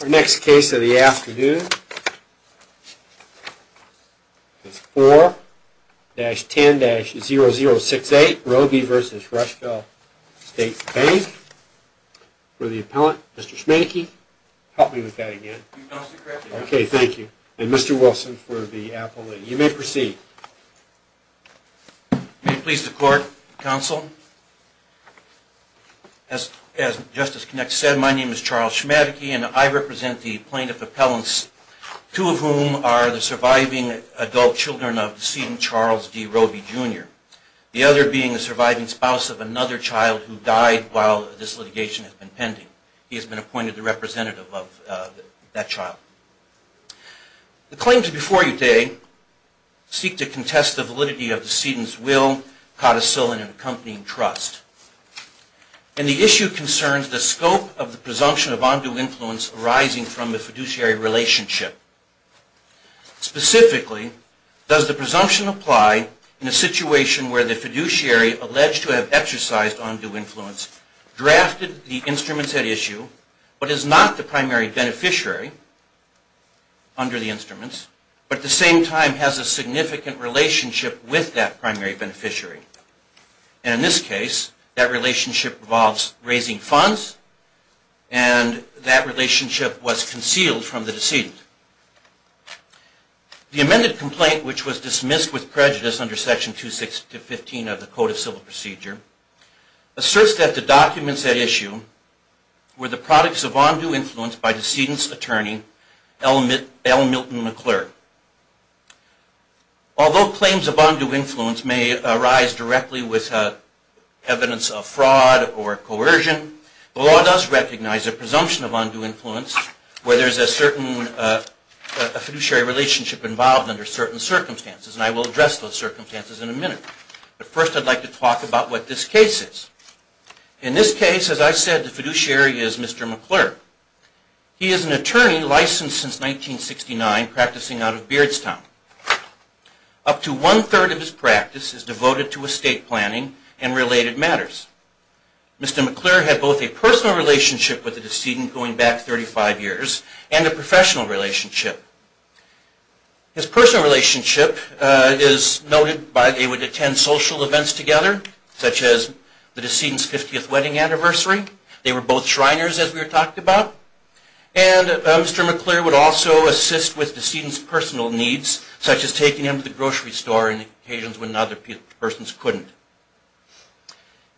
Our next case of the afternoon is 4-10-0068, Roby v. Rushville State Bank. For the appellant, Mr. Schmadeke, help me with that again. You've announced the correct name. Okay, thank you. And Mr. Wilson for the appellate. You may proceed. May it please the court, counsel. As Justice Konek said, my name is Charles Schmadeke and I represent the plaintiff appellants, two of whom are the surviving adult children of the decedent Charles D. Roby Jr. The other being the surviving spouse of another child who died while this litigation has been pending. He has been appointed the representative of that child. The claims before you today seek to contest the validity of the decedent's will, codicil, and accompanying trust. And the issue concerns the scope of the presumption of undue influence arising from the fiduciary relationship. Specifically, does the presumption apply in a situation where the fiduciary alleged to have exercised undue influence, drafted the instruments at issue, but is not the primary beneficiary under the instruments, but at the same time has a significant relationship with that primary beneficiary? And in this case, that relationship involves raising funds and that relationship was concealed from the decedent. The amended complaint, which was dismissed with prejudice under Section 2615 of the Code of Civil Procedure, asserts that the documents at issue were the products of undue influence by decedent's attorney, L. Milton McClurg. Although claims of undue influence may arise directly with evidence of fraud or coercion, the law does recognize a presumption of undue influence where there is a certain fiduciary relationship involved under certain circumstances. And I will address those circumstances in a minute. But first, I'd like to talk about what this case is. In this case, as I said, the fiduciary is Mr. McClurg. He is an attorney licensed since 1969 practicing out of Beardstown. Up to one-third of his practice is devoted to estate planning and related matters. Mr. McClurg had both a personal relationship with the decedent going back 35 years and a professional relationship. His personal relationship is noted by they would attend social events together, such as the decedent's 50th wedding anniversary. They were both Shriners, as we talked about. And Mr. McClurg would also assist with decedent's personal needs, such as taking him to the grocery store on occasions when other persons couldn't.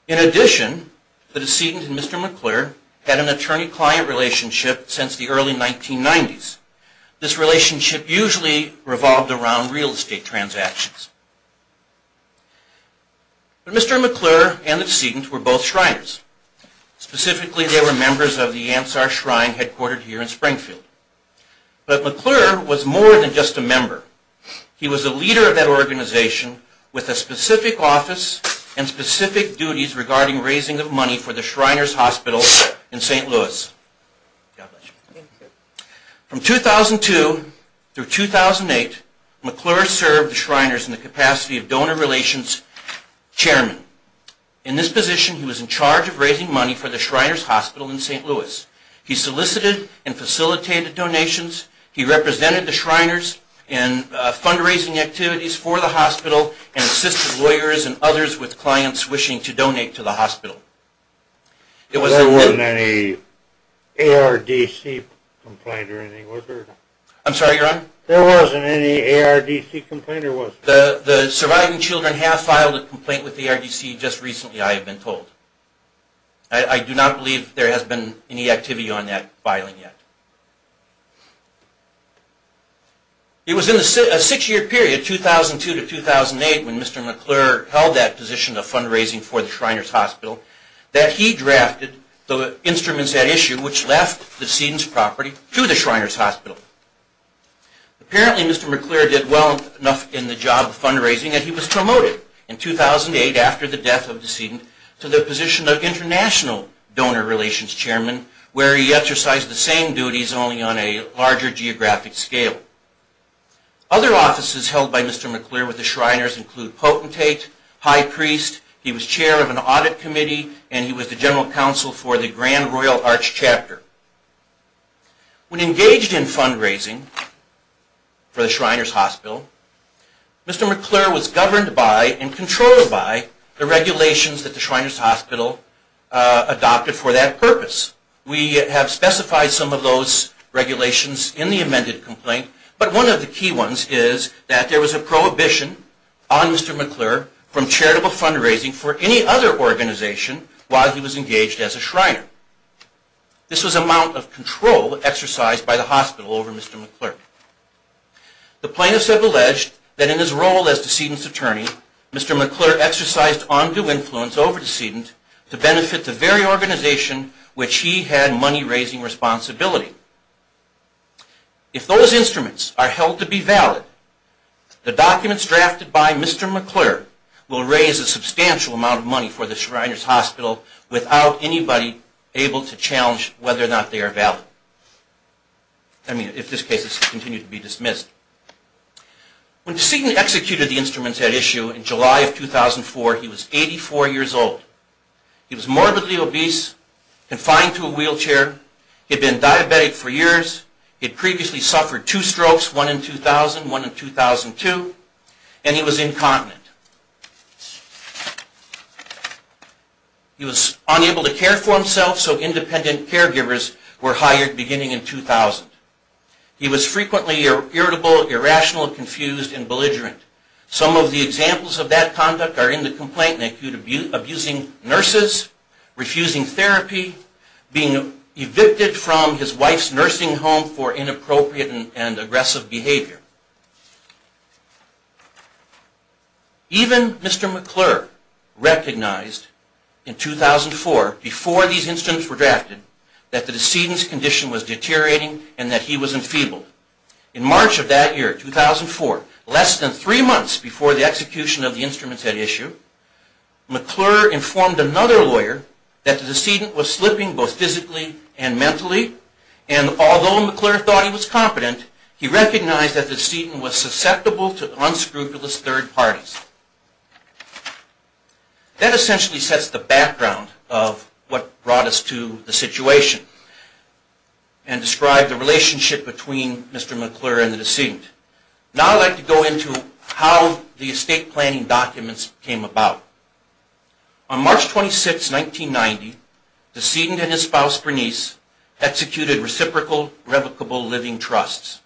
In addition, the decedent and Mr. McClurg had an attorney-client relationship since the early 1990s. This relationship usually revolved around real estate transactions. Mr. McClurg and the decedent were both Shriners. Specifically, they were members of the Ansar Shrine headquartered here in Springfield. But McClurg was more than just a member. He was a leader of that organization with a specific office and specific duties regarding raising of money for the Shriners Hospital in St. Louis. From 2002 through 2008, McClurg served the Shriners in the capacity of donor relations chairman. In this position, he was in charge of raising money for the Shriners Hospital in St. Louis. He solicited and facilitated donations. He represented the Shriners in fundraising activities for the hospital and assisted lawyers and others with clients wishing to donate to the hospital. There wasn't any ARDC complaint or anything, was there? I'm sorry, Your Honor? There wasn't any ARDC complaint or was there? The surviving children have filed a complaint with the ARDC just recently, I have been told. I do not believe there has been any activity on that filing yet. It was in a six-year period, 2002 to 2008, when Mr. McClurg held that position of fundraising for the Shriners Hospital, that he drafted the instruments at issue which left the decedent's property to the Shriners Hospital. Apparently, Mr. McClurg did well enough in the job of fundraising that he was promoted in 2008 after the death of the decedent to the position of international donor relations chairman, where he exercised the same duties only on a larger geographic scale. Other offices held by Mr. McClurg with the Shriners include Potentate, High Priest, he was chair of an audit committee, and he was the general counsel for the Grand Royal Arch Chapter. When engaged in fundraising for the Shriners Hospital, Mr. McClurg was governed by and controlled by the regulations that the Shriners Hospital adopted for that purpose. We have specified some of those regulations in the amended complaint, but one of the key ones is that there was a prohibition on Mr. McClurg from charitable fundraising for any other organization while he was engaged as a Shriner. This was an amount of control exercised by the hospital over Mr. McClurg. The plaintiffs have alleged that in his role as decedent's attorney, Mr. McClurg exercised undue influence over decedent to benefit the very organization which he had money-raising responsibility. If those instruments are held to be valid, the documents drafted by Mr. McClurg will raise a substantial amount of money for the Shriners Hospital without anybody able to challenge whether or not they are valid. I mean, if this case is to continue to be dismissed. When decedent executed the instruments at issue in July of 2004, he was 84 years old. He was morbidly obese, confined to a wheelchair. He had been diabetic for years. He had previously suffered two strokes, one in 2000 and one in 2002. And he was incontinent. He was unable to care for himself, so independent caregivers were hired beginning in 2000. He was frequently irritable, irrational, confused, and belligerent. Some of the examples of that conduct are in the complaint, in the acute abusing nurses, refusing therapy, being evicted from his wife's nursing home for inappropriate and aggressive behavior. Even Mr. McClurg recognized in 2004, before these instruments were drafted, that the decedent's condition was deteriorating and that he was enfeebled. In March of that year, 2004, less than three months before the execution of the instruments at issue, McClurg informed another lawyer that the decedent was slipping both physically and mentally, and although McClurg thought he was competent, he recognized that the decedent was susceptible to unscrupulous third parties. That essentially sets the background of what happened between Mr. McClurg and the decedent. Now I'd like to go into how the estate planning documents came about. On March 26, 1990, the decedent and his spouse Bernice executed reciprocal, revocable living trusts.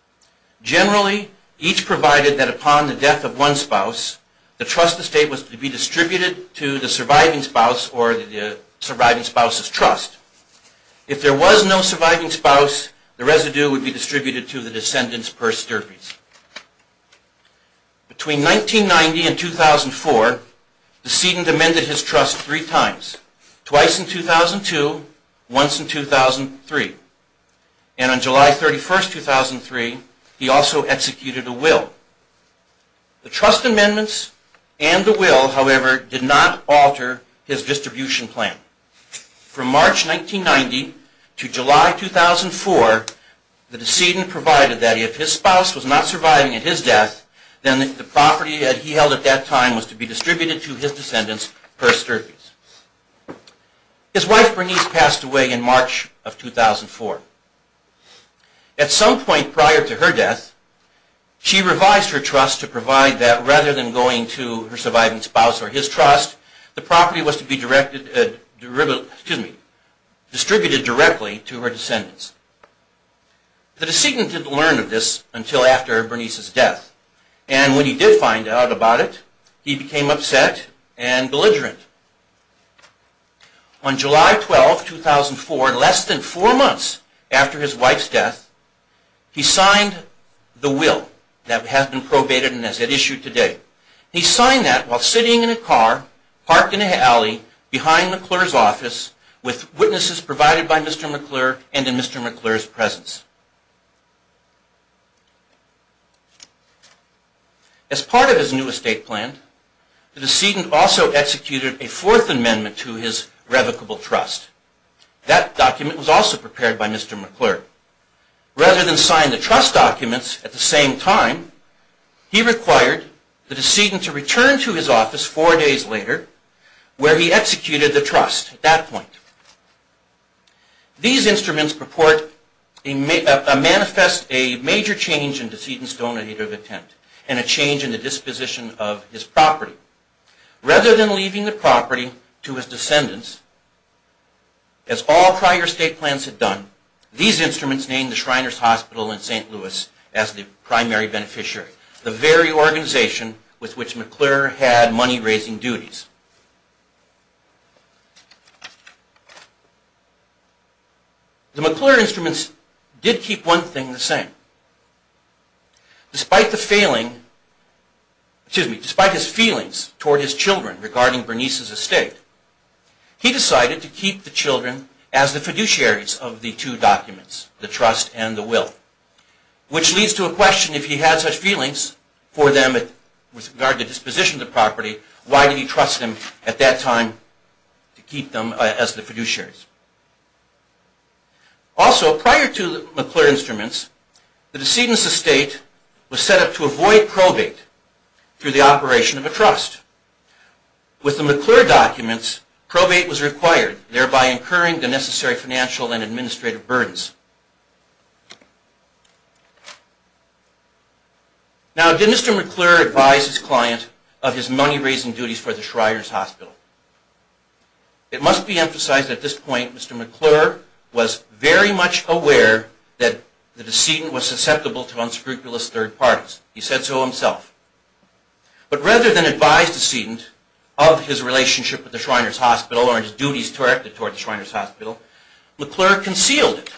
Generally, each provided that upon the death of one spouse, the trust estate was to be distributed to the surviving spouse or the surviving spouse's trust. If there was no surviving spouse, the residue would be distributed to the descendant's purse derpies. Between 1990 and 2004, the decedent amended his trust three times, twice in 2002, once in 2003. And on July 31, 2003, he also executed a will. The trust amendments and the will, however, did not alter his distribution plan. From March 1990 to July 2004, the decedent provided that if his spouse was not surviving at his death, then the property that he held at that time was to be distributed to his descendant's purse derpies. His wife Bernice passed away in March of 2004. At some point prior to her death, she revised her trust to provide that rather than going to her surviving spouse or his trust, the property was to be distributed directly to her descendants. The decedent didn't learn of this until after Bernice's death. And when he did find out about it, he became upset and belligerent. On July 12, 2004, less than four months after his wife's death, he signed the will that has been probated and is issued today. He signed that while sitting in a car, parked in an alley behind McClure's office with witnesses provided by Mr. McClure and in Mr. McClure's presence. As part of his new estate plan, the decedent also executed a fourth amendment to his revocable trust. That document was also prepared by Mr. McClure. Rather than sign the trust documents at the same time, he required the decedent to return to his office four days later where he executed the trust at that point. These instruments manifest a major change in decedent's donative intent and a change in the disposition of his property. Rather than leaving the property to his descendants, as all prior estate plans had done, these instruments named the Shriners Hospital in St. Louis as the primary beneficiary, the very organization with which McClure had money raising duties. The McClure instruments did keep one thing the same. Despite the failing, excuse me, despite his feelings toward his children regarding Bernice's estate, he decided to keep the children as the fiduciaries of the two documents, the trust and the will. Which leads to a question, if he had such feelings for them with regard to disposition of the property, why did he trust them at that time to keep them as the fiduciaries? Also, prior to the McClure instruments, the decedent's estate was set up to avoid probate through the operation of a trust. With the McClure documents, probate was necessary. Now, did Mr. McClure advise his client of his money raising duties for the Shriners Hospital? It must be emphasized at this point Mr. McClure was very much aware that the decedent was susceptible to unscrupulous third parties. He said so himself. But rather than advise the decedent of his relationship with the Shriners Hospital or his duties directed toward the Shriners Hospital, McClure concealed it.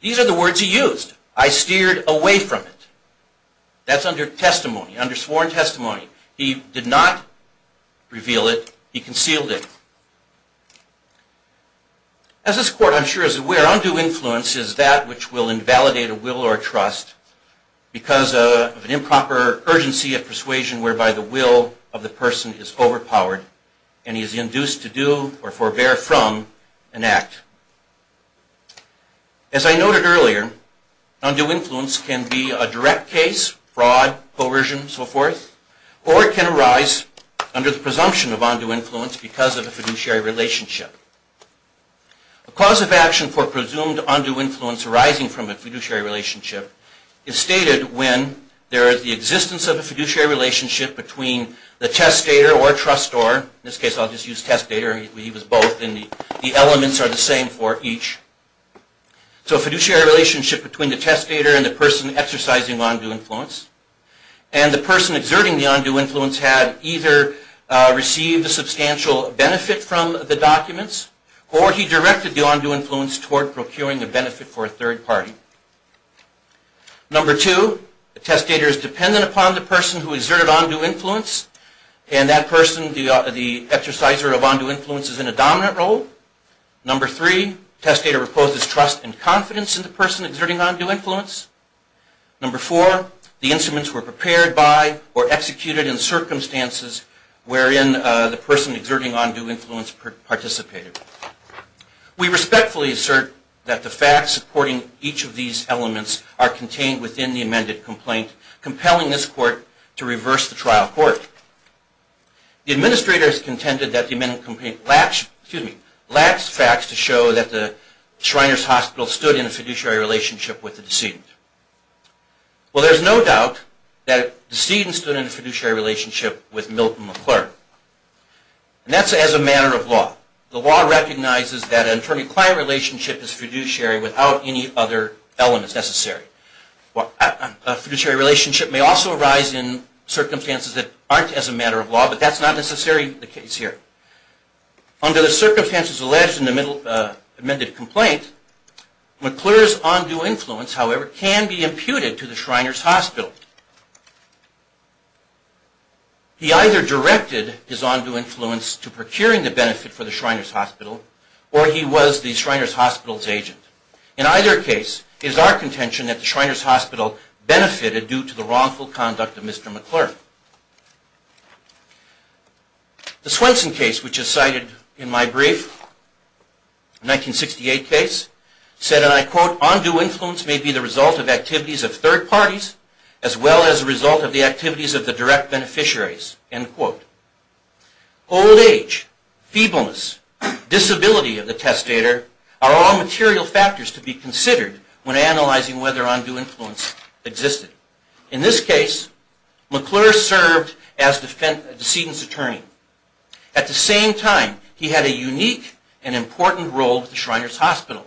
These are the words he used, I steered away from it. That's under testimony, under sworn testimony. He did not reveal it, he concealed it. As this court I'm sure is aware, undue influence is that which will invalidate a will or trust because of an improper urgency of undue or forbear from an act. As I noted earlier, undue influence can be a direct case, fraud, coercion, so forth, or it can arise under the presumption of undue influence because of a fiduciary relationship. A cause of action for presumed undue influence arising from a fiduciary relationship is stated when there is the existence of a fiduciary relationship between the testator or trustor, in this case I'll just use testator, he was both and the elements are the same for each. So a fiduciary relationship between the testator and the person exercising undue influence and the person exerting the undue influence had either received a substantial benefit from the documents or he directed the undue influence toward procuring a benefit for a third party. Number two, the testator is dependent upon the person who exerted undue influence and that person, the exerciser of undue influence is in a dominant role. Number three, testator reposes trust and confidence in the person exerting undue influence. Number four, the instruments were prepared by or executed in circumstances wherein the person exerting undue influence participated. We respectfully assert that the facts supporting each of these elements are contained within the amended complaint compelling this court to reverse the trial court. The administrators contended that the amended complaint lacks facts to show that the Shriners Hospital stood in a fiduciary relationship with the decedent. Well there's no doubt that the decedent stood in a fiduciary relationship with Milton McClure and that's as a matter of law. The law recognizes that an attorney-client relationship is fiduciary without any other elements necessary. A fiduciary relationship may also arise in circumstances that aren't as a matter of law but that's not necessarily the case here. Under the circumstances alleged in the amended complaint, McClure's undue influence, however, can be imputed to the Shriners Hospital. He either directed his undue influence to procuring the benefit for the Shriners Hospital or he was the Shriners Hospital's agent. In either case, it is our contention that the Shriners Hospital benefited due to the wrongful conduct of Mr. McClure. The Swenson case which is cited in my brief, 1968 case, said and I quote, undue influence may be the result of activities of third parties as well as the result of the activities of the direct beneficiaries, end quote. Old age, feebleness, disability of the testator are all material factors to be considered when analyzing whether undue influence existed. In this case, McClure served as a decedent's attorney. At the same time, he had a unique and important role with the Shriners Hospital.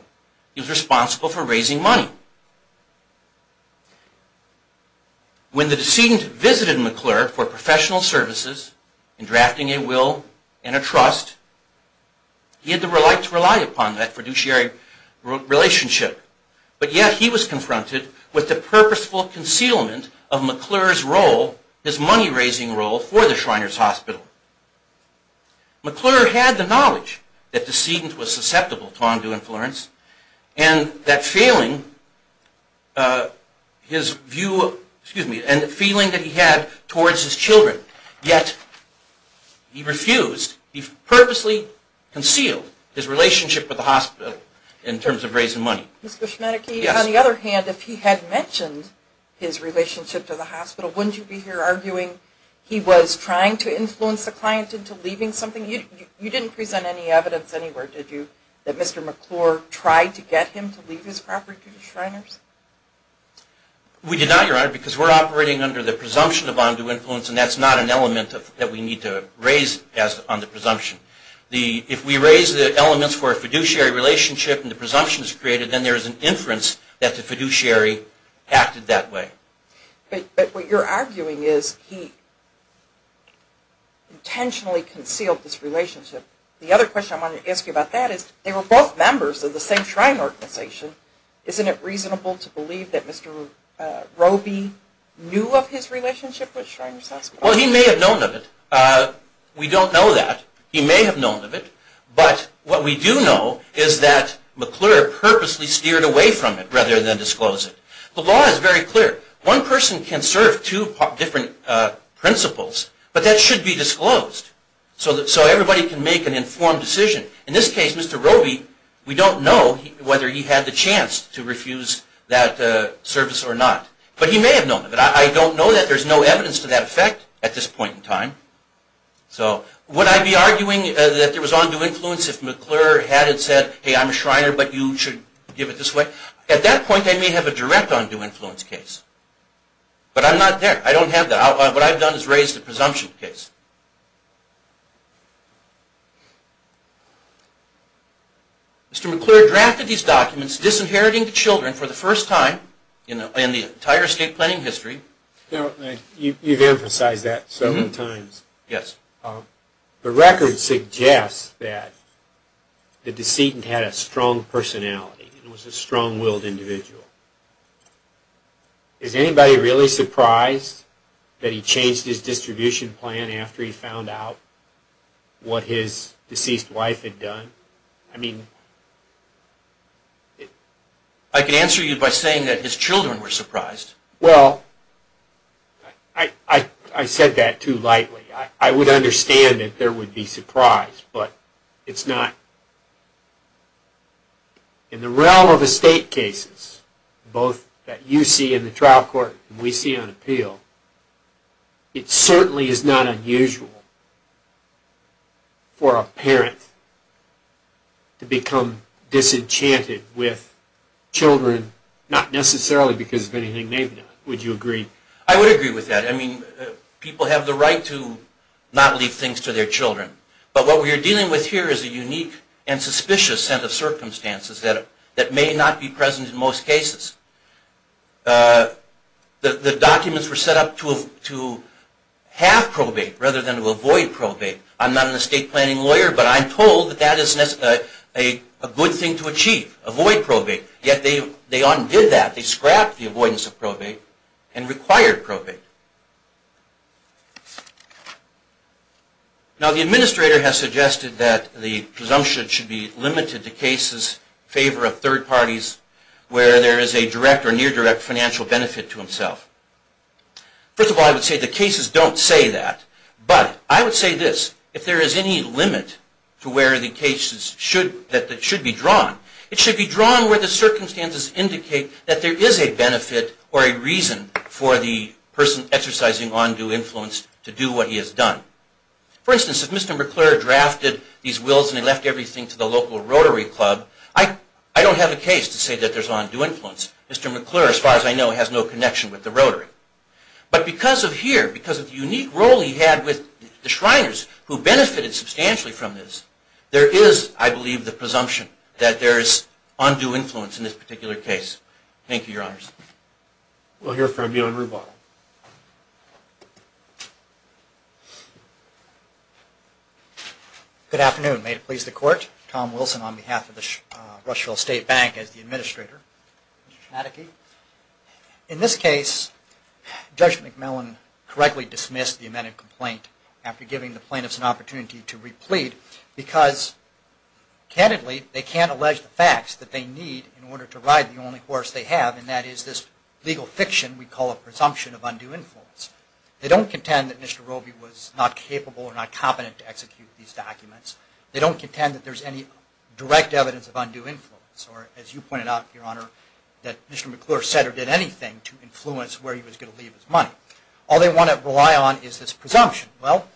He was responsible for raising money. When the decedent visited McClure for professional services and drafting a will and a trust, he had to rely upon that fiduciary relationship. But yet he was confronted with the Shriners Hospital. McClure had the knowledge that the decedent was susceptible to undue influence and that feeling his view, excuse me, and the feeling that he had towards his children, yet he refused, he purposely concealed his relationship with the hospital in terms of raising money. On the other hand, if he had mentioned his relationship to the hospital, wouldn't you be here arguing he was trying to influence the client into leaving something? You didn't present any evidence anywhere, did you, that Mr. McClure tried to get him to leave his property to the Shriners? We did not, Your Honor, because we're operating under the presumption of undue influence and that's not an element that we need to raise on the presumption. If we raise the elements for a fiduciary relationship and the presumption is created, then there is an inference that the fiduciary acted that way. But what you're arguing is he intentionally concealed this relationship. The other question I wanted to ask you about that is they were both members of the same Shrine organization. Isn't it reasonable to believe that Mr. Roby knew of his relationship with the Shriners? I don't know that. He may have known of it, but what we do know is that McClure purposely steered away from it rather than disclose it. The law is very clear. One person can serve two different principles, but that should be disclosed so everybody can make an informed decision. In this case, Mr. Roby, we don't know whether he had the chance to refuse that service or not. But he may have known of it. I don't know that. There's no evidence to that effect at this point in time. Would I be arguing that there was undue influence if McClure had said, hey, I'm a Shriner, but you should give it this way? At that point, I may have a direct undue influence case. But I'm not there. I don't have that. What I've done is raise the presumption case. Mr. McClure drafted these documents disinheriting children for the first time in the entire estate planning history. You've emphasized that several times. The records suggest that the decedent had a strong personality and was a strong-willed individual. Is anybody really surprised that he changed his distribution plan after he found out what his deceased wife had done? I can answer you by saying that his children were surprised. I said that too lightly. I would understand that there would be surprise, but both that you see in the trial court and we see on appeal, it certainly is not unusual for a parent to become disenchanted with children, not necessarily because of anything, maybe not. Would you agree? I would agree with that. People have the right to not leave things to their children. But what we are dealing with here is a unique and suspicious set of circumstances that may not be present in most cases. The documents were set up to have probate rather than to avoid probate. I'm not an estate planning lawyer, but I'm told that that is a good thing to achieve. Avoid probate. Yet they undid that. They scrapped the avoidance of probate and required probate. Now the administrator has suggested that the presumption should be limited to cases in favor of third parties where there is a direct or near direct financial benefit to himself. First of all, I would say the cases don't say that. But I would say this, if there is any limit to where the cases should be drawn, it should be drawn where the circumstances indicate that there is a benefit or a reason for the person exercising undue influence to do what he has done. For instance, if Mr. McClure drafted these wills and he left everything to the local rotary club, I don't have a case to say that there is undue influence. Mr. McClure, as far as I know, has no connection with the rotary. But because of here, because of the unique role he had with the Shriners who benefited substantially from this, there is, I believe, the presumption that there is undue influence in this particular case. Thank you, Your Honors. We'll hear from you on rebuttal. Good afternoon. May it please the Court. Tom Wilson on behalf of the Rushville State Bank as the administrator. Mr. Schmadeke. In this case, Judge McMillan correctly dismissed the amended complaint after giving the plaintiffs an opportunity to replete because, candidly, they can't allege the facts that they need in order to ride the only horse they have, and that is this legal fiction we call a presumption of undue influence. They don't contend that Mr. Robey was not capable or not competent to execute these documents. They don't contend that there is any direct evidence of undue influence. As you pointed out, Your Honor, that Mr. McClure said or did anything to influence where he was going to leave his money. All they want to rely on is this presumption. Well,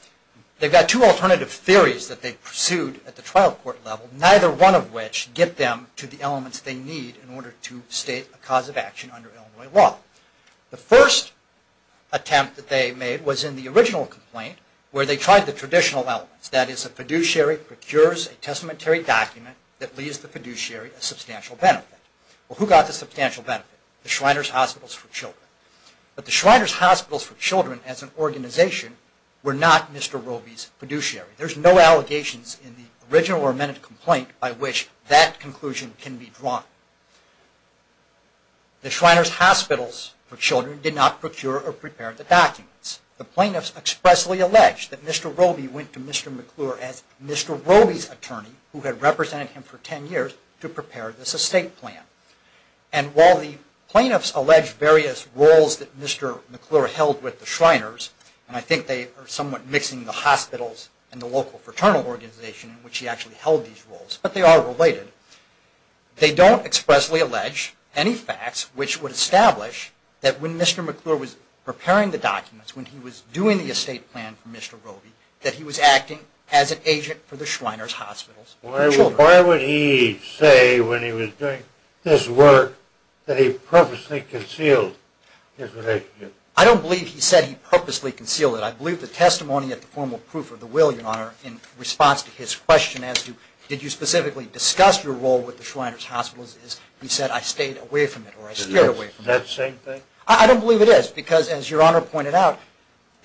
they've got two alternative theories that they pursued at the trial court level, neither one of which get them to the elements they need in order to state a cause of action under Illinois law. The first attempt that they made was in the original complaint where they tried the traditional elements, that is a fiduciary procures a testamentary document that leaves the fiduciary a substantial benefit. Well, who got the substantial benefit? The Shriners Hospitals for Children. But the Shriners Hospitals for Children as an organization were not Mr. Robey's fiduciary. There's no allegations in the original or amended complaint by which that conclusion can be drawn. The Shriners Hospitals for Children did not procure or prepare the documents. The plaintiffs expressly allege that Mr. Robey went to Mr. McClure as Mr. Robey's attorney who had represented him for ten years to prepare this estate plan. And while the plaintiffs allege various roles that Mr. McClure held with the Shriners, and I think they are somewhat mixing the hospitals and the local fraternal organization in which he actually held these roles, but they are related, they don't expressly allege any facts which would establish that when Mr. McClure was doing the estate plan for Mr. Robey that he was acting as an agent for the Shriners Hospitals for Children. Why would he say when he was doing this work that he purposely concealed his relationship? I don't believe he said he purposely concealed it. I believe the testimony at the formal proof of the will, Your Honor, in response to his question as to did you specifically discuss your role with the Shriners Hospitals is he said I stayed away from it or I steered away from it. Is that the same thing? I don't believe it is because as Your Honor pointed out,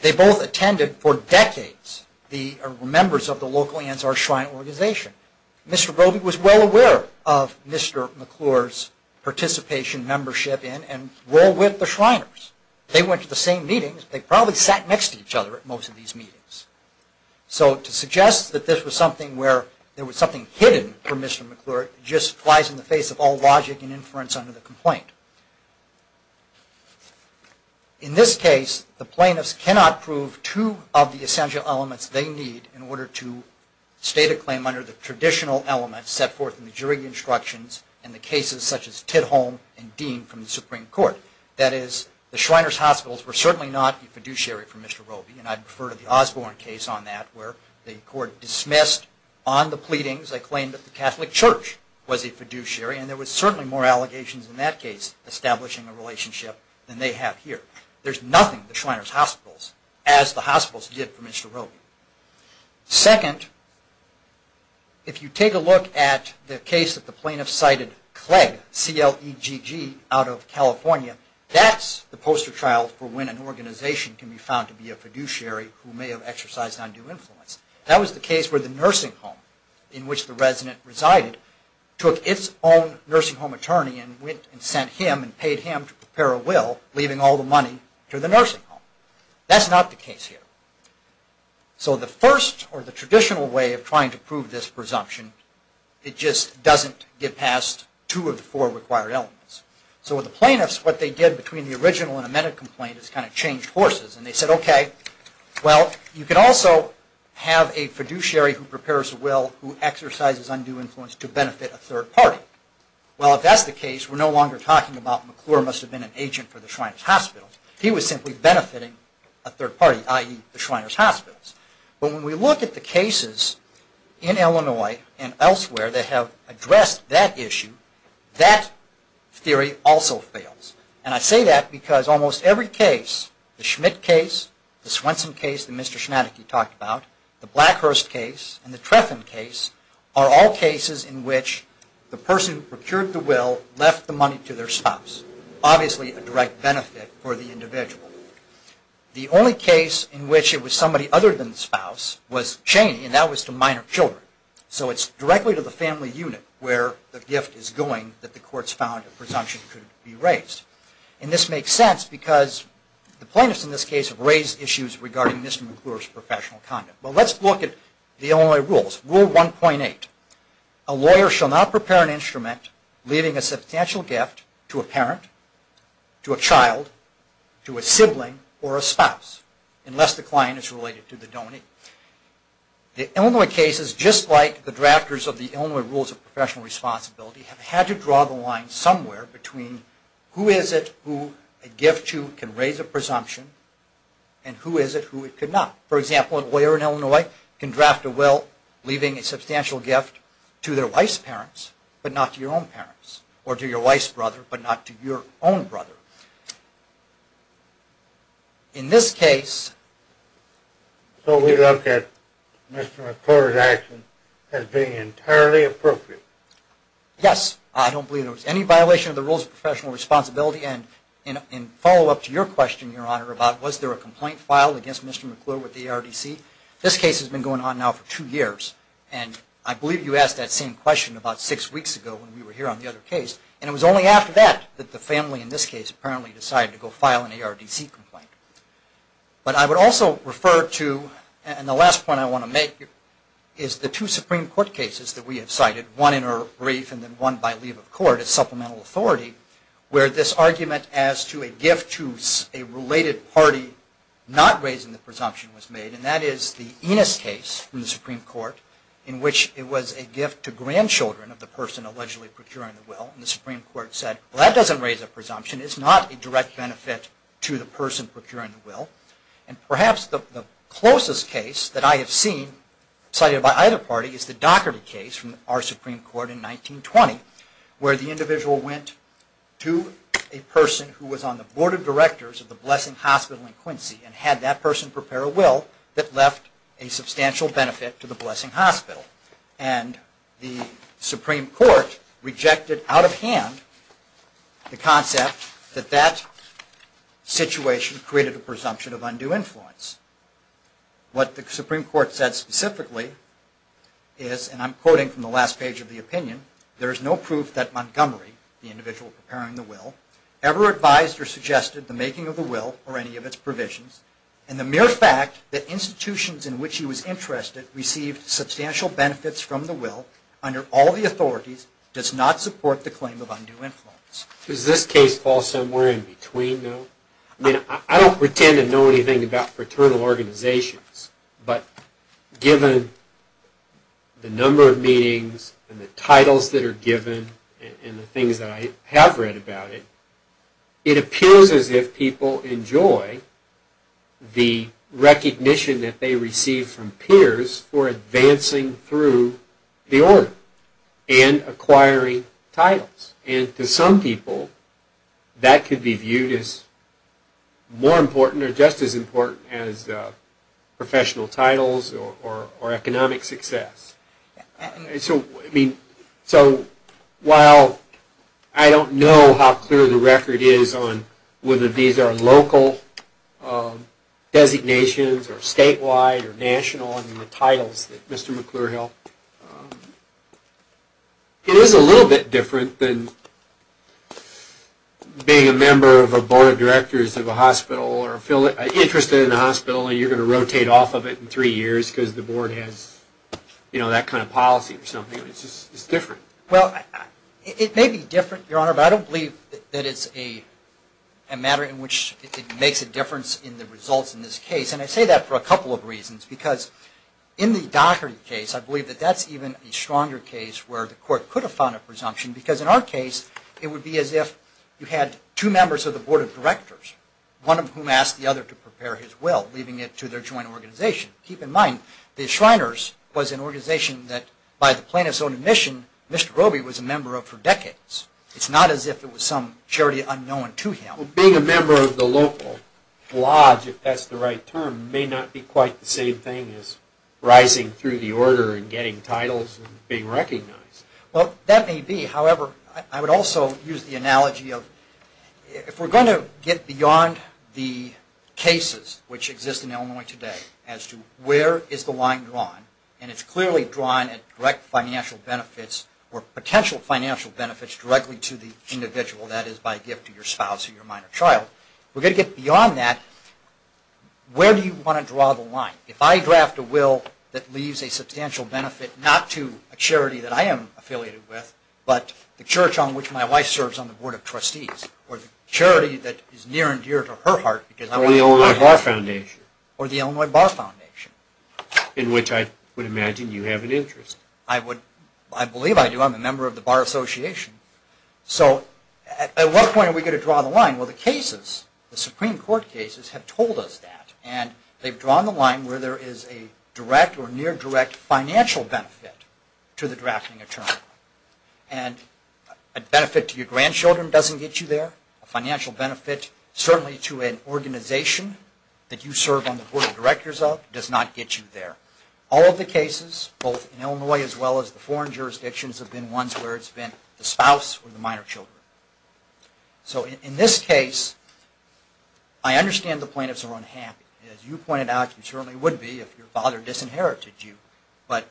they both attended for decades, the members of the local Ansar Shrine organization. Mr. Robey was well aware of Mr. McClure's participation, membership in and role with the Shriners. They went to the same meetings. They probably sat next to each other at most of these meetings. So to suggest that this was something where there was something hidden from Mr. McClure just flies in the face of all logic and inference under the complaint. In this case, the plaintiffs cannot prove two of the essential elements they need in order to state a claim under the traditional elements set forth in the jury instructions and the cases such as Tidholm and Dean from the Supreme Court. That is, the Shriners Hospitals were certainly not a fiduciary for Mr. Robey and I'd refer to the Osborne case on that where the court dismissed on Catholic Church was a fiduciary and there was certainly more allegations in that case establishing a relationship than they have here. There's nothing at the Shriners Hospitals as the hospitals did for Mr. Robey. Second, if you take a look at the case that the plaintiffs cited Clegg, C-L-E-G-G, out of California, that's the poster child for when an organization can be found to be a fiduciary who may have took its own nursing home attorney and sent him and paid him to prepare a will, leaving all the money to the nursing home. That's not the case here. So the first or the traditional way of trying to prove this presumption, it just doesn't get past two of the four required elements. So with the plaintiffs, what they did between the original and amended complaint is kind of changed forces and they said, okay, well, you can also have a fiduciary who prepares a will who exercises undue influence to benefit a third party. Well, if that's the case, we're no longer talking about McClure must have been an agent for the Shriners Hospitals. He was simply benefiting a third party, i.e., the Shriners Hospitals. But when we look at the cases in Illinois and elsewhere that have addressed that issue, that theory also fails. And I say that because almost every case, the Schmidt case, the Swenson case that Mr. Schmadeke talked about, the Blackhurst case and the Trethen case are all cases in which the person who procured the will left the money to their spouse, obviously a direct benefit for the individual. The only case in which it was somebody other than the spouse was Chaney and that was to minor children. So it's directly to the family unit where the gift is going that the courts found a presumption could be raised. And this makes sense because the plaintiffs in this case have raised issues regarding Mr. McClure's professional conduct. Well, let's look at the Illinois rules. Rule 1.8, a lawyer shall not prepare an instrument leaving a substantial gift to a parent, to a child, to a sibling or a spouse unless the client is related to the donor. The Illinois cases, just like the drafters of the Illinois rules of professional responsibility, have had to draw the line somewhere between who is it who a gift to can raise a presumption and who is it who it could not. For example, a lawyer in Illinois can draft a will leaving a substantial gift to their wife's parents but not to your own parents or to your wife's brother but not to your own brother. In this case... So we look at Mr. McClure's action as being entirely appropriate? Yes. I don't believe there was any violation of the rules of professional responsibility. And in follow-up to your question, Your Honor, about was there a complaint filed against Mr. McClure with the ARDC, this case has been going on now for two years. And I believe you asked that same question about six weeks ago when we were here on the other case. And it was only after that that the family in this case apparently decided to go file an ARDC complaint. But I would also refer to, and the last point I want to make, is the two Supreme Court cases that we have cited, one in a brief and then one by leave of court as supplemental authority, where this argument as to a gift to a related party not raising the presumption was made. And that is the Enos case in the Supreme Court in which it was a gift to grandchildren of the person allegedly procuring the will. And the Supreme Court said, well, that doesn't raise a presumption. It's not a direct benefit to the person procuring the will. And perhaps the closest case that I have seen cited by either party is the Doherty case from our Supreme Court in 1920, where the individual went to a person who was on the board of directors of the Blessing Hospital in Quincy and had that person prepare a will that left a substantial benefit to the Blessing Hospital. And the Supreme Court rejected out of hand the concept that that situation created a presumption of undue influence. What the Supreme Court said specifically is, and I'm quoting from the last page of the opinion, there is no proof that Montgomery, the individual preparing the will, ever advised or suggested the making of the will or any of its provisions, and the mere fact that institutions in which he was interested received substantial benefits from the will under all the authorities does not support the claim of undue influence. Does this case fall somewhere in between, though? I mean, I don't pretend to know anything about fraternal organizations, but given the number of meetings and the titles that are given and the things that I have read about it, it appears as if people enjoy the recognition that they receive from peers for advancing through the order and acquiring titles. And to some people, that could be viewed as more important or just as important as professional titles or economic success. So while I don't know how clear the record is on whether these are local designations or statewide or national in the being a member of a board of directors of a hospital or interested in a hospital and you're going to rotate off of it in three years because the board has that kind of policy or something, it's just different. Well, it may be different, Your Honor, but I don't believe that it's a matter in which it makes a difference in the results in this case. And I say that for a couple of reasons, because in the Dockery case, I believe that that's even a stronger case where the as if you had two members of the board of directors, one of whom asked the other to prepare his will, leaving it to their joint organization. Keep in mind, the Shriners was an organization that, by the plaintiff's own admission, Mr. Roby was a member of for decades. It's not as if it was some charity unknown to him. Well, being a member of the local lodge, if that's the right term, may not be quite the same thing as rising through the order and getting titles and being recognized. Well, that may be. However, I would also use the analogy of if we're going to get beyond the cases which exist in Illinois today as to where is the line drawn, and it's clearly drawn at direct financial benefits or potential financial benefits directly to the individual, that is by gift to your spouse or your minor child. We're going to get beyond that. Where do you want to draw the line? If I draft a will that leaves a substantial benefit not to a charity that I am affiliated with, but the church on which my wife serves on the board of trustees, or the charity that is near and dear to her heart because I want her to have it. Or the Illinois Bar Foundation. Or the Illinois Bar Foundation. In which I would imagine you have an interest. I believe I do. I'm a member of the Bar Association. So at what point are we going to draw the line? Well, the cases, the Supreme Court cases, have told us that. And they've drawn the line where there is a direct or near direct financial benefit to the drafting attorney. And a benefit to your grandchildren doesn't get you there. A financial benefit certainly to an organization that you serve on the board of directors of does not get you there. All of the cases, both in Illinois as well as the foreign jurisdictions, have been ones where it's been the spouse or the minor children. So in this case, I understand the plaintiffs are unhappy. As you pointed out, you certainly would be if your father disinherited you. But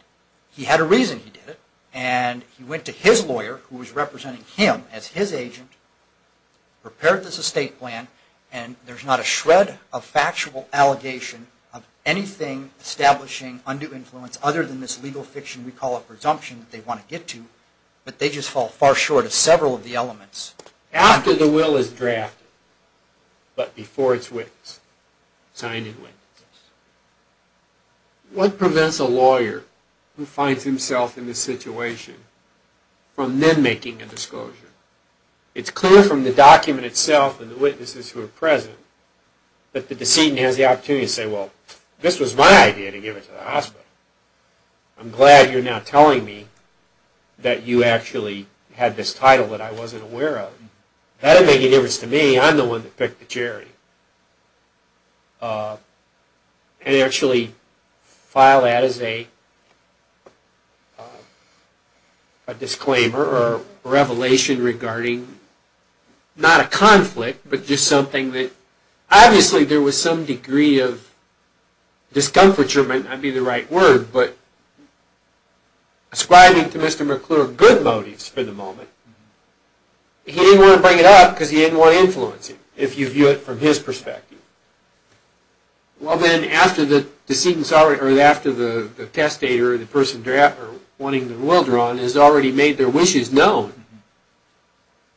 he had a reason he did it. And he went to his lawyer, who was representing him as his agent, prepared this estate plan. And there's not a shred of factual allegation of anything establishing undue influence other than this legal fiction we After the will is drafted, but before it's witnessed, signed and witnessed. What prevents a lawyer who finds himself in this situation from then making a disclosure? It's clear from the document itself and the witnesses who are present that the decedent has the opportunity to say, well, this was my idea to give it to the hospital. I'm glad you're now telling me that you actually had this title that I wasn't aware of. That didn't make any difference to me. I'm the one that picked the charity. And actually file that as a disclaimer or revelation regarding not a conflict, but just something that Obviously there was some degree of discomfiture, might not be the right word, but ascribing to Mr. McClure good motives for the moment. He didn't want to bring it up because he didn't want to influence him, if you view it from his perspective. Well then, after the testator or the person wanting the will drawn has already made their wishes known,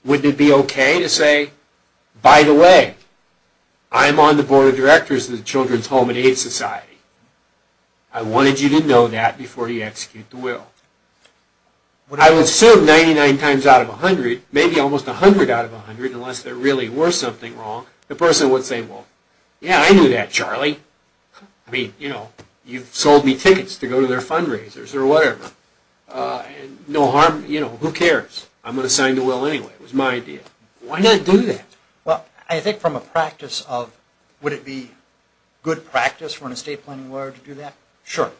wouldn't it be okay to say, by the way, I'm on the board of directors of the Children's Home and Aid Society. I wanted you to know that before you execute the will. What I would assume 99 times out of 100, maybe almost 100 out of 100, unless there really were something wrong, the person would say, well, yeah, I knew that, Charlie. I mean, you know, you've sold me tickets to go to their fundraisers or whatever. No harm, you know, who cares? I'm going to sign the will anyway. It was my idea. Why not do that? Well, I think from a practice of, would it be good practice for an estate planning lawyer to do that? Sure.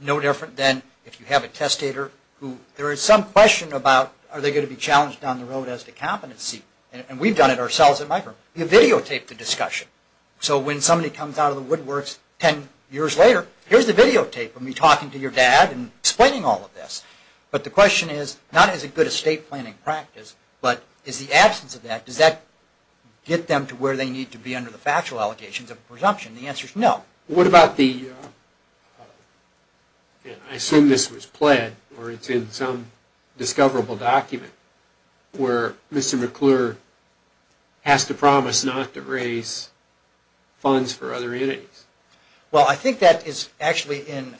No different than if you have a testator who there is some question about, are they going to be challenged down the road as to competency? And we've done it ourselves at my firm. You videotape the discussion. So when somebody comes out of the woodworks 10 years later, here's the videotape of me talking to your dad and explaining all of this. But the question is, not is it good estate planning practice, but is the absence of that, does that get them to where they need to be under the factual allegations of presumption? The answer is no. What about the, I assume this was pled, or it's in some discoverable document, where Mr. McClure has to promise not to raise funds for other entities? Well, I think that is actually in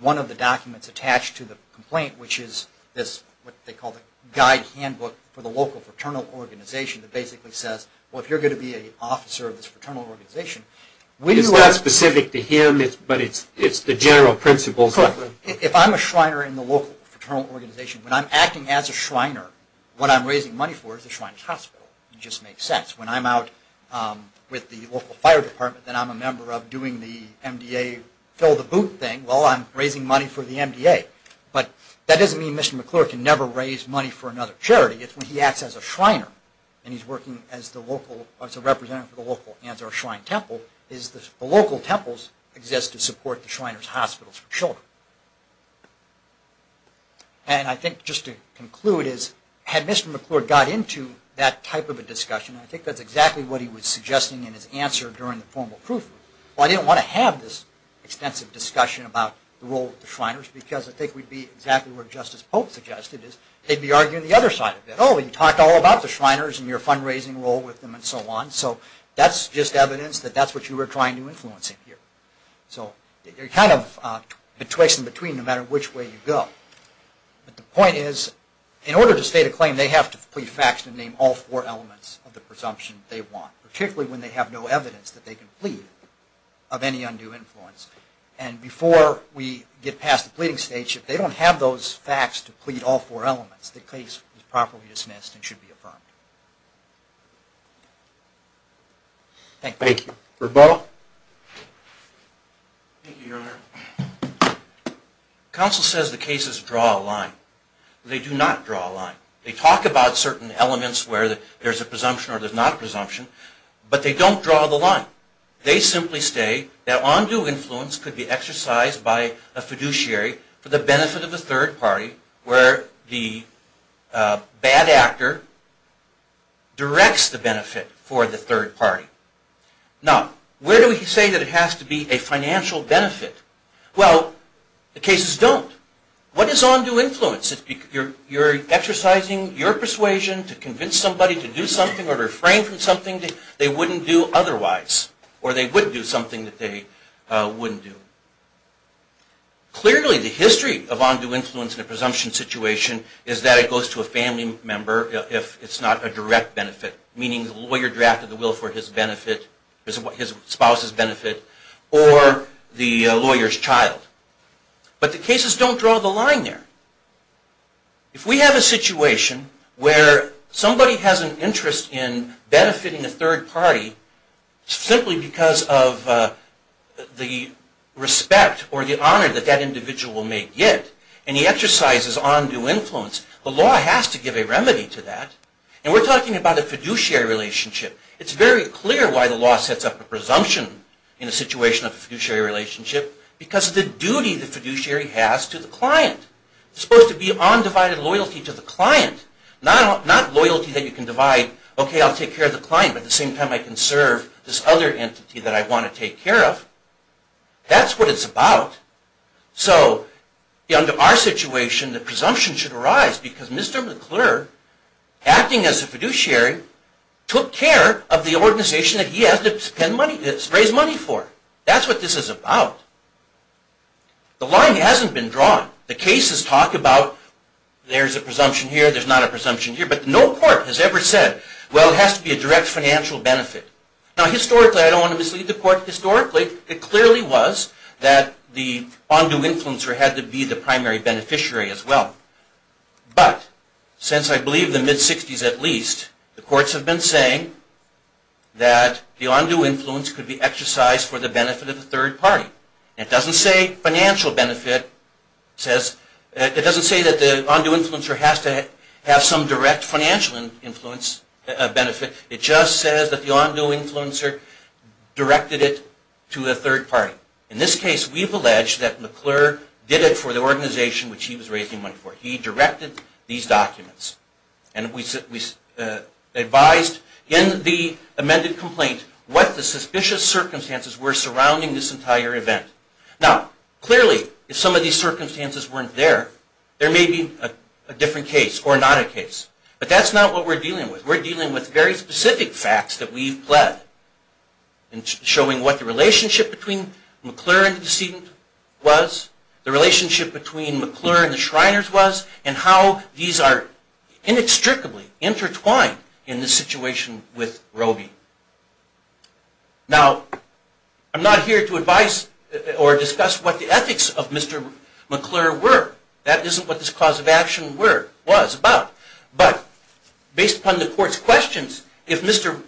one of the documents attached to the complaint, which is what they call the guide handbook for the local fraternal organization that basically says, well, if you're going to be an officer of this fraternal organization, It's not specific to him, but it's the general principles. If I'm a Shriner in the local fraternal organization, when I'm acting as a Shriner, what I'm raising money for is the Shriner's Hospital. It just makes sense. When I'm out with the local fire department and I'm a member of doing the MDA fill the boot thing, well, I'm raising money for the MDA. But that doesn't mean Mr. McClure can never raise money for another charity. It's when he acts as a Shriner and he's working as the local, as a representative for the local Ansar Shrine Temple, is the local temples exist to support the Shriner's Hospital for children. And I think just to conclude is, had Mr. McClure got into that type of a discussion, I think that's exactly what he was suggesting in his answer during the formal proof. Well, I didn't want to have this extensive discussion about the role of the Shriners because I think we'd be exactly where Justice Polk suggested is, they'd be arguing the other side of it. Oh, you talked all about the Shriners and your fundraising role with them and so on. So that's just evidence that that's what you were trying to influence him here. So you're kind of betwixt and between no matter which way you go. But the point is, in order to state a claim, they have to plead facts and name all four elements of the presumption they want, particularly when they have no evidence that they can plead of any undue influence. And before we get past the pleading stage, if they don't have those facts to plead all four elements, the case is properly dismissed and should be affirmed. Thank you. Thank you. Roberto? Thank you, Your Honor. Counsel says the cases draw a line. They do not draw a line. They talk about certain elements where there's a presumption or there's not a presumption, but they don't draw the line. They simply say that undue influence could be exercised by a fiduciary for the benefit of a third party where the bad actor directs the benefit for the third party. Now, where do we say that it has to be a financial benefit? Well, the cases don't. What is undue influence? You're exercising your persuasion to convince somebody to do something or refrain from something they wouldn't do otherwise, or they would do something that they wouldn't do. Clearly, the history of undue influence in a presumption situation is that it goes to a family member if it's not a direct benefit, meaning the lawyer drafted the will for his benefit, his spouse's benefit, or the lawyer's child. But the cases don't draw the line there. If we have a situation where somebody has an interest in benefiting a third party simply because of the respect or the honor that that individual may get and he exercises undue influence, the law has to give a remedy to that. And we're talking about a fiduciary relationship. It's very clear why the law sets up a presumption in a situation of a fiduciary relationship because of the duty the fiduciary has to the client. It's supposed to be undivided loyalty to the client, not loyalty that you can divide, okay, I'll take care of the client but at the same time I can serve this other entity that I want to take care of. That's what it's about. So, under our situation, the presumption should arise because Mr. McClure, acting as a fiduciary, took care of the organization that he has to raise money for. That's what this is about. The line hasn't been drawn. The cases talk about there's a presumption here, there's not a presumption here, but no court has ever said, well, it has to be a direct financial benefit. Now, historically, I don't want to mislead the court, it clearly was that the on-due influencer had to be the primary beneficiary as well. But, since I believe the mid-60s at least, the courts have been saying that the on-due influence could be exercised for the benefit of a third party. It doesn't say financial benefit. It doesn't say that the on-due influencer has to have some direct financial benefit. It just says that the on-due influencer directed it to a third party. In this case, we've alleged that McClure did it for the organization which he was raising money for. He directed these documents. And we advised in the amended complaint what the suspicious circumstances were surrounding this entire event. Now, clearly, if some of these circumstances weren't there, there may be a different case, or not a case. But that's not what we're dealing with. We're dealing with very specific facts that we've pled, showing what the relationship between McClure and the decedent was, the relationship between McClure and the Shriners was, and how these are inextricably intertwined in this situation with Robey. Now, I'm not here to advise or discuss what the ethics of Mr. McClure were. That isn't what this cause of action was about. But based upon the court's questions, if Mr.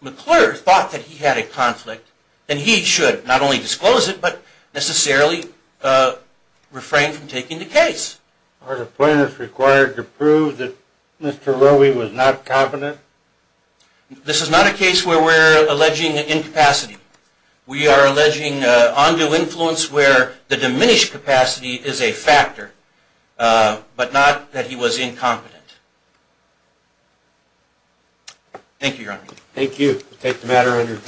McClure thought that he had a conflict, then he should not only disclose it, but necessarily refrain from taking the case. Are the plaintiffs required to prove that Mr. Robey was not competent? This is not a case where we're alleging incapacity. We are alleging on-due influence where the diminished capacity is a factor, but not that he was incompetent. Thank you, Your Honor. Thank you.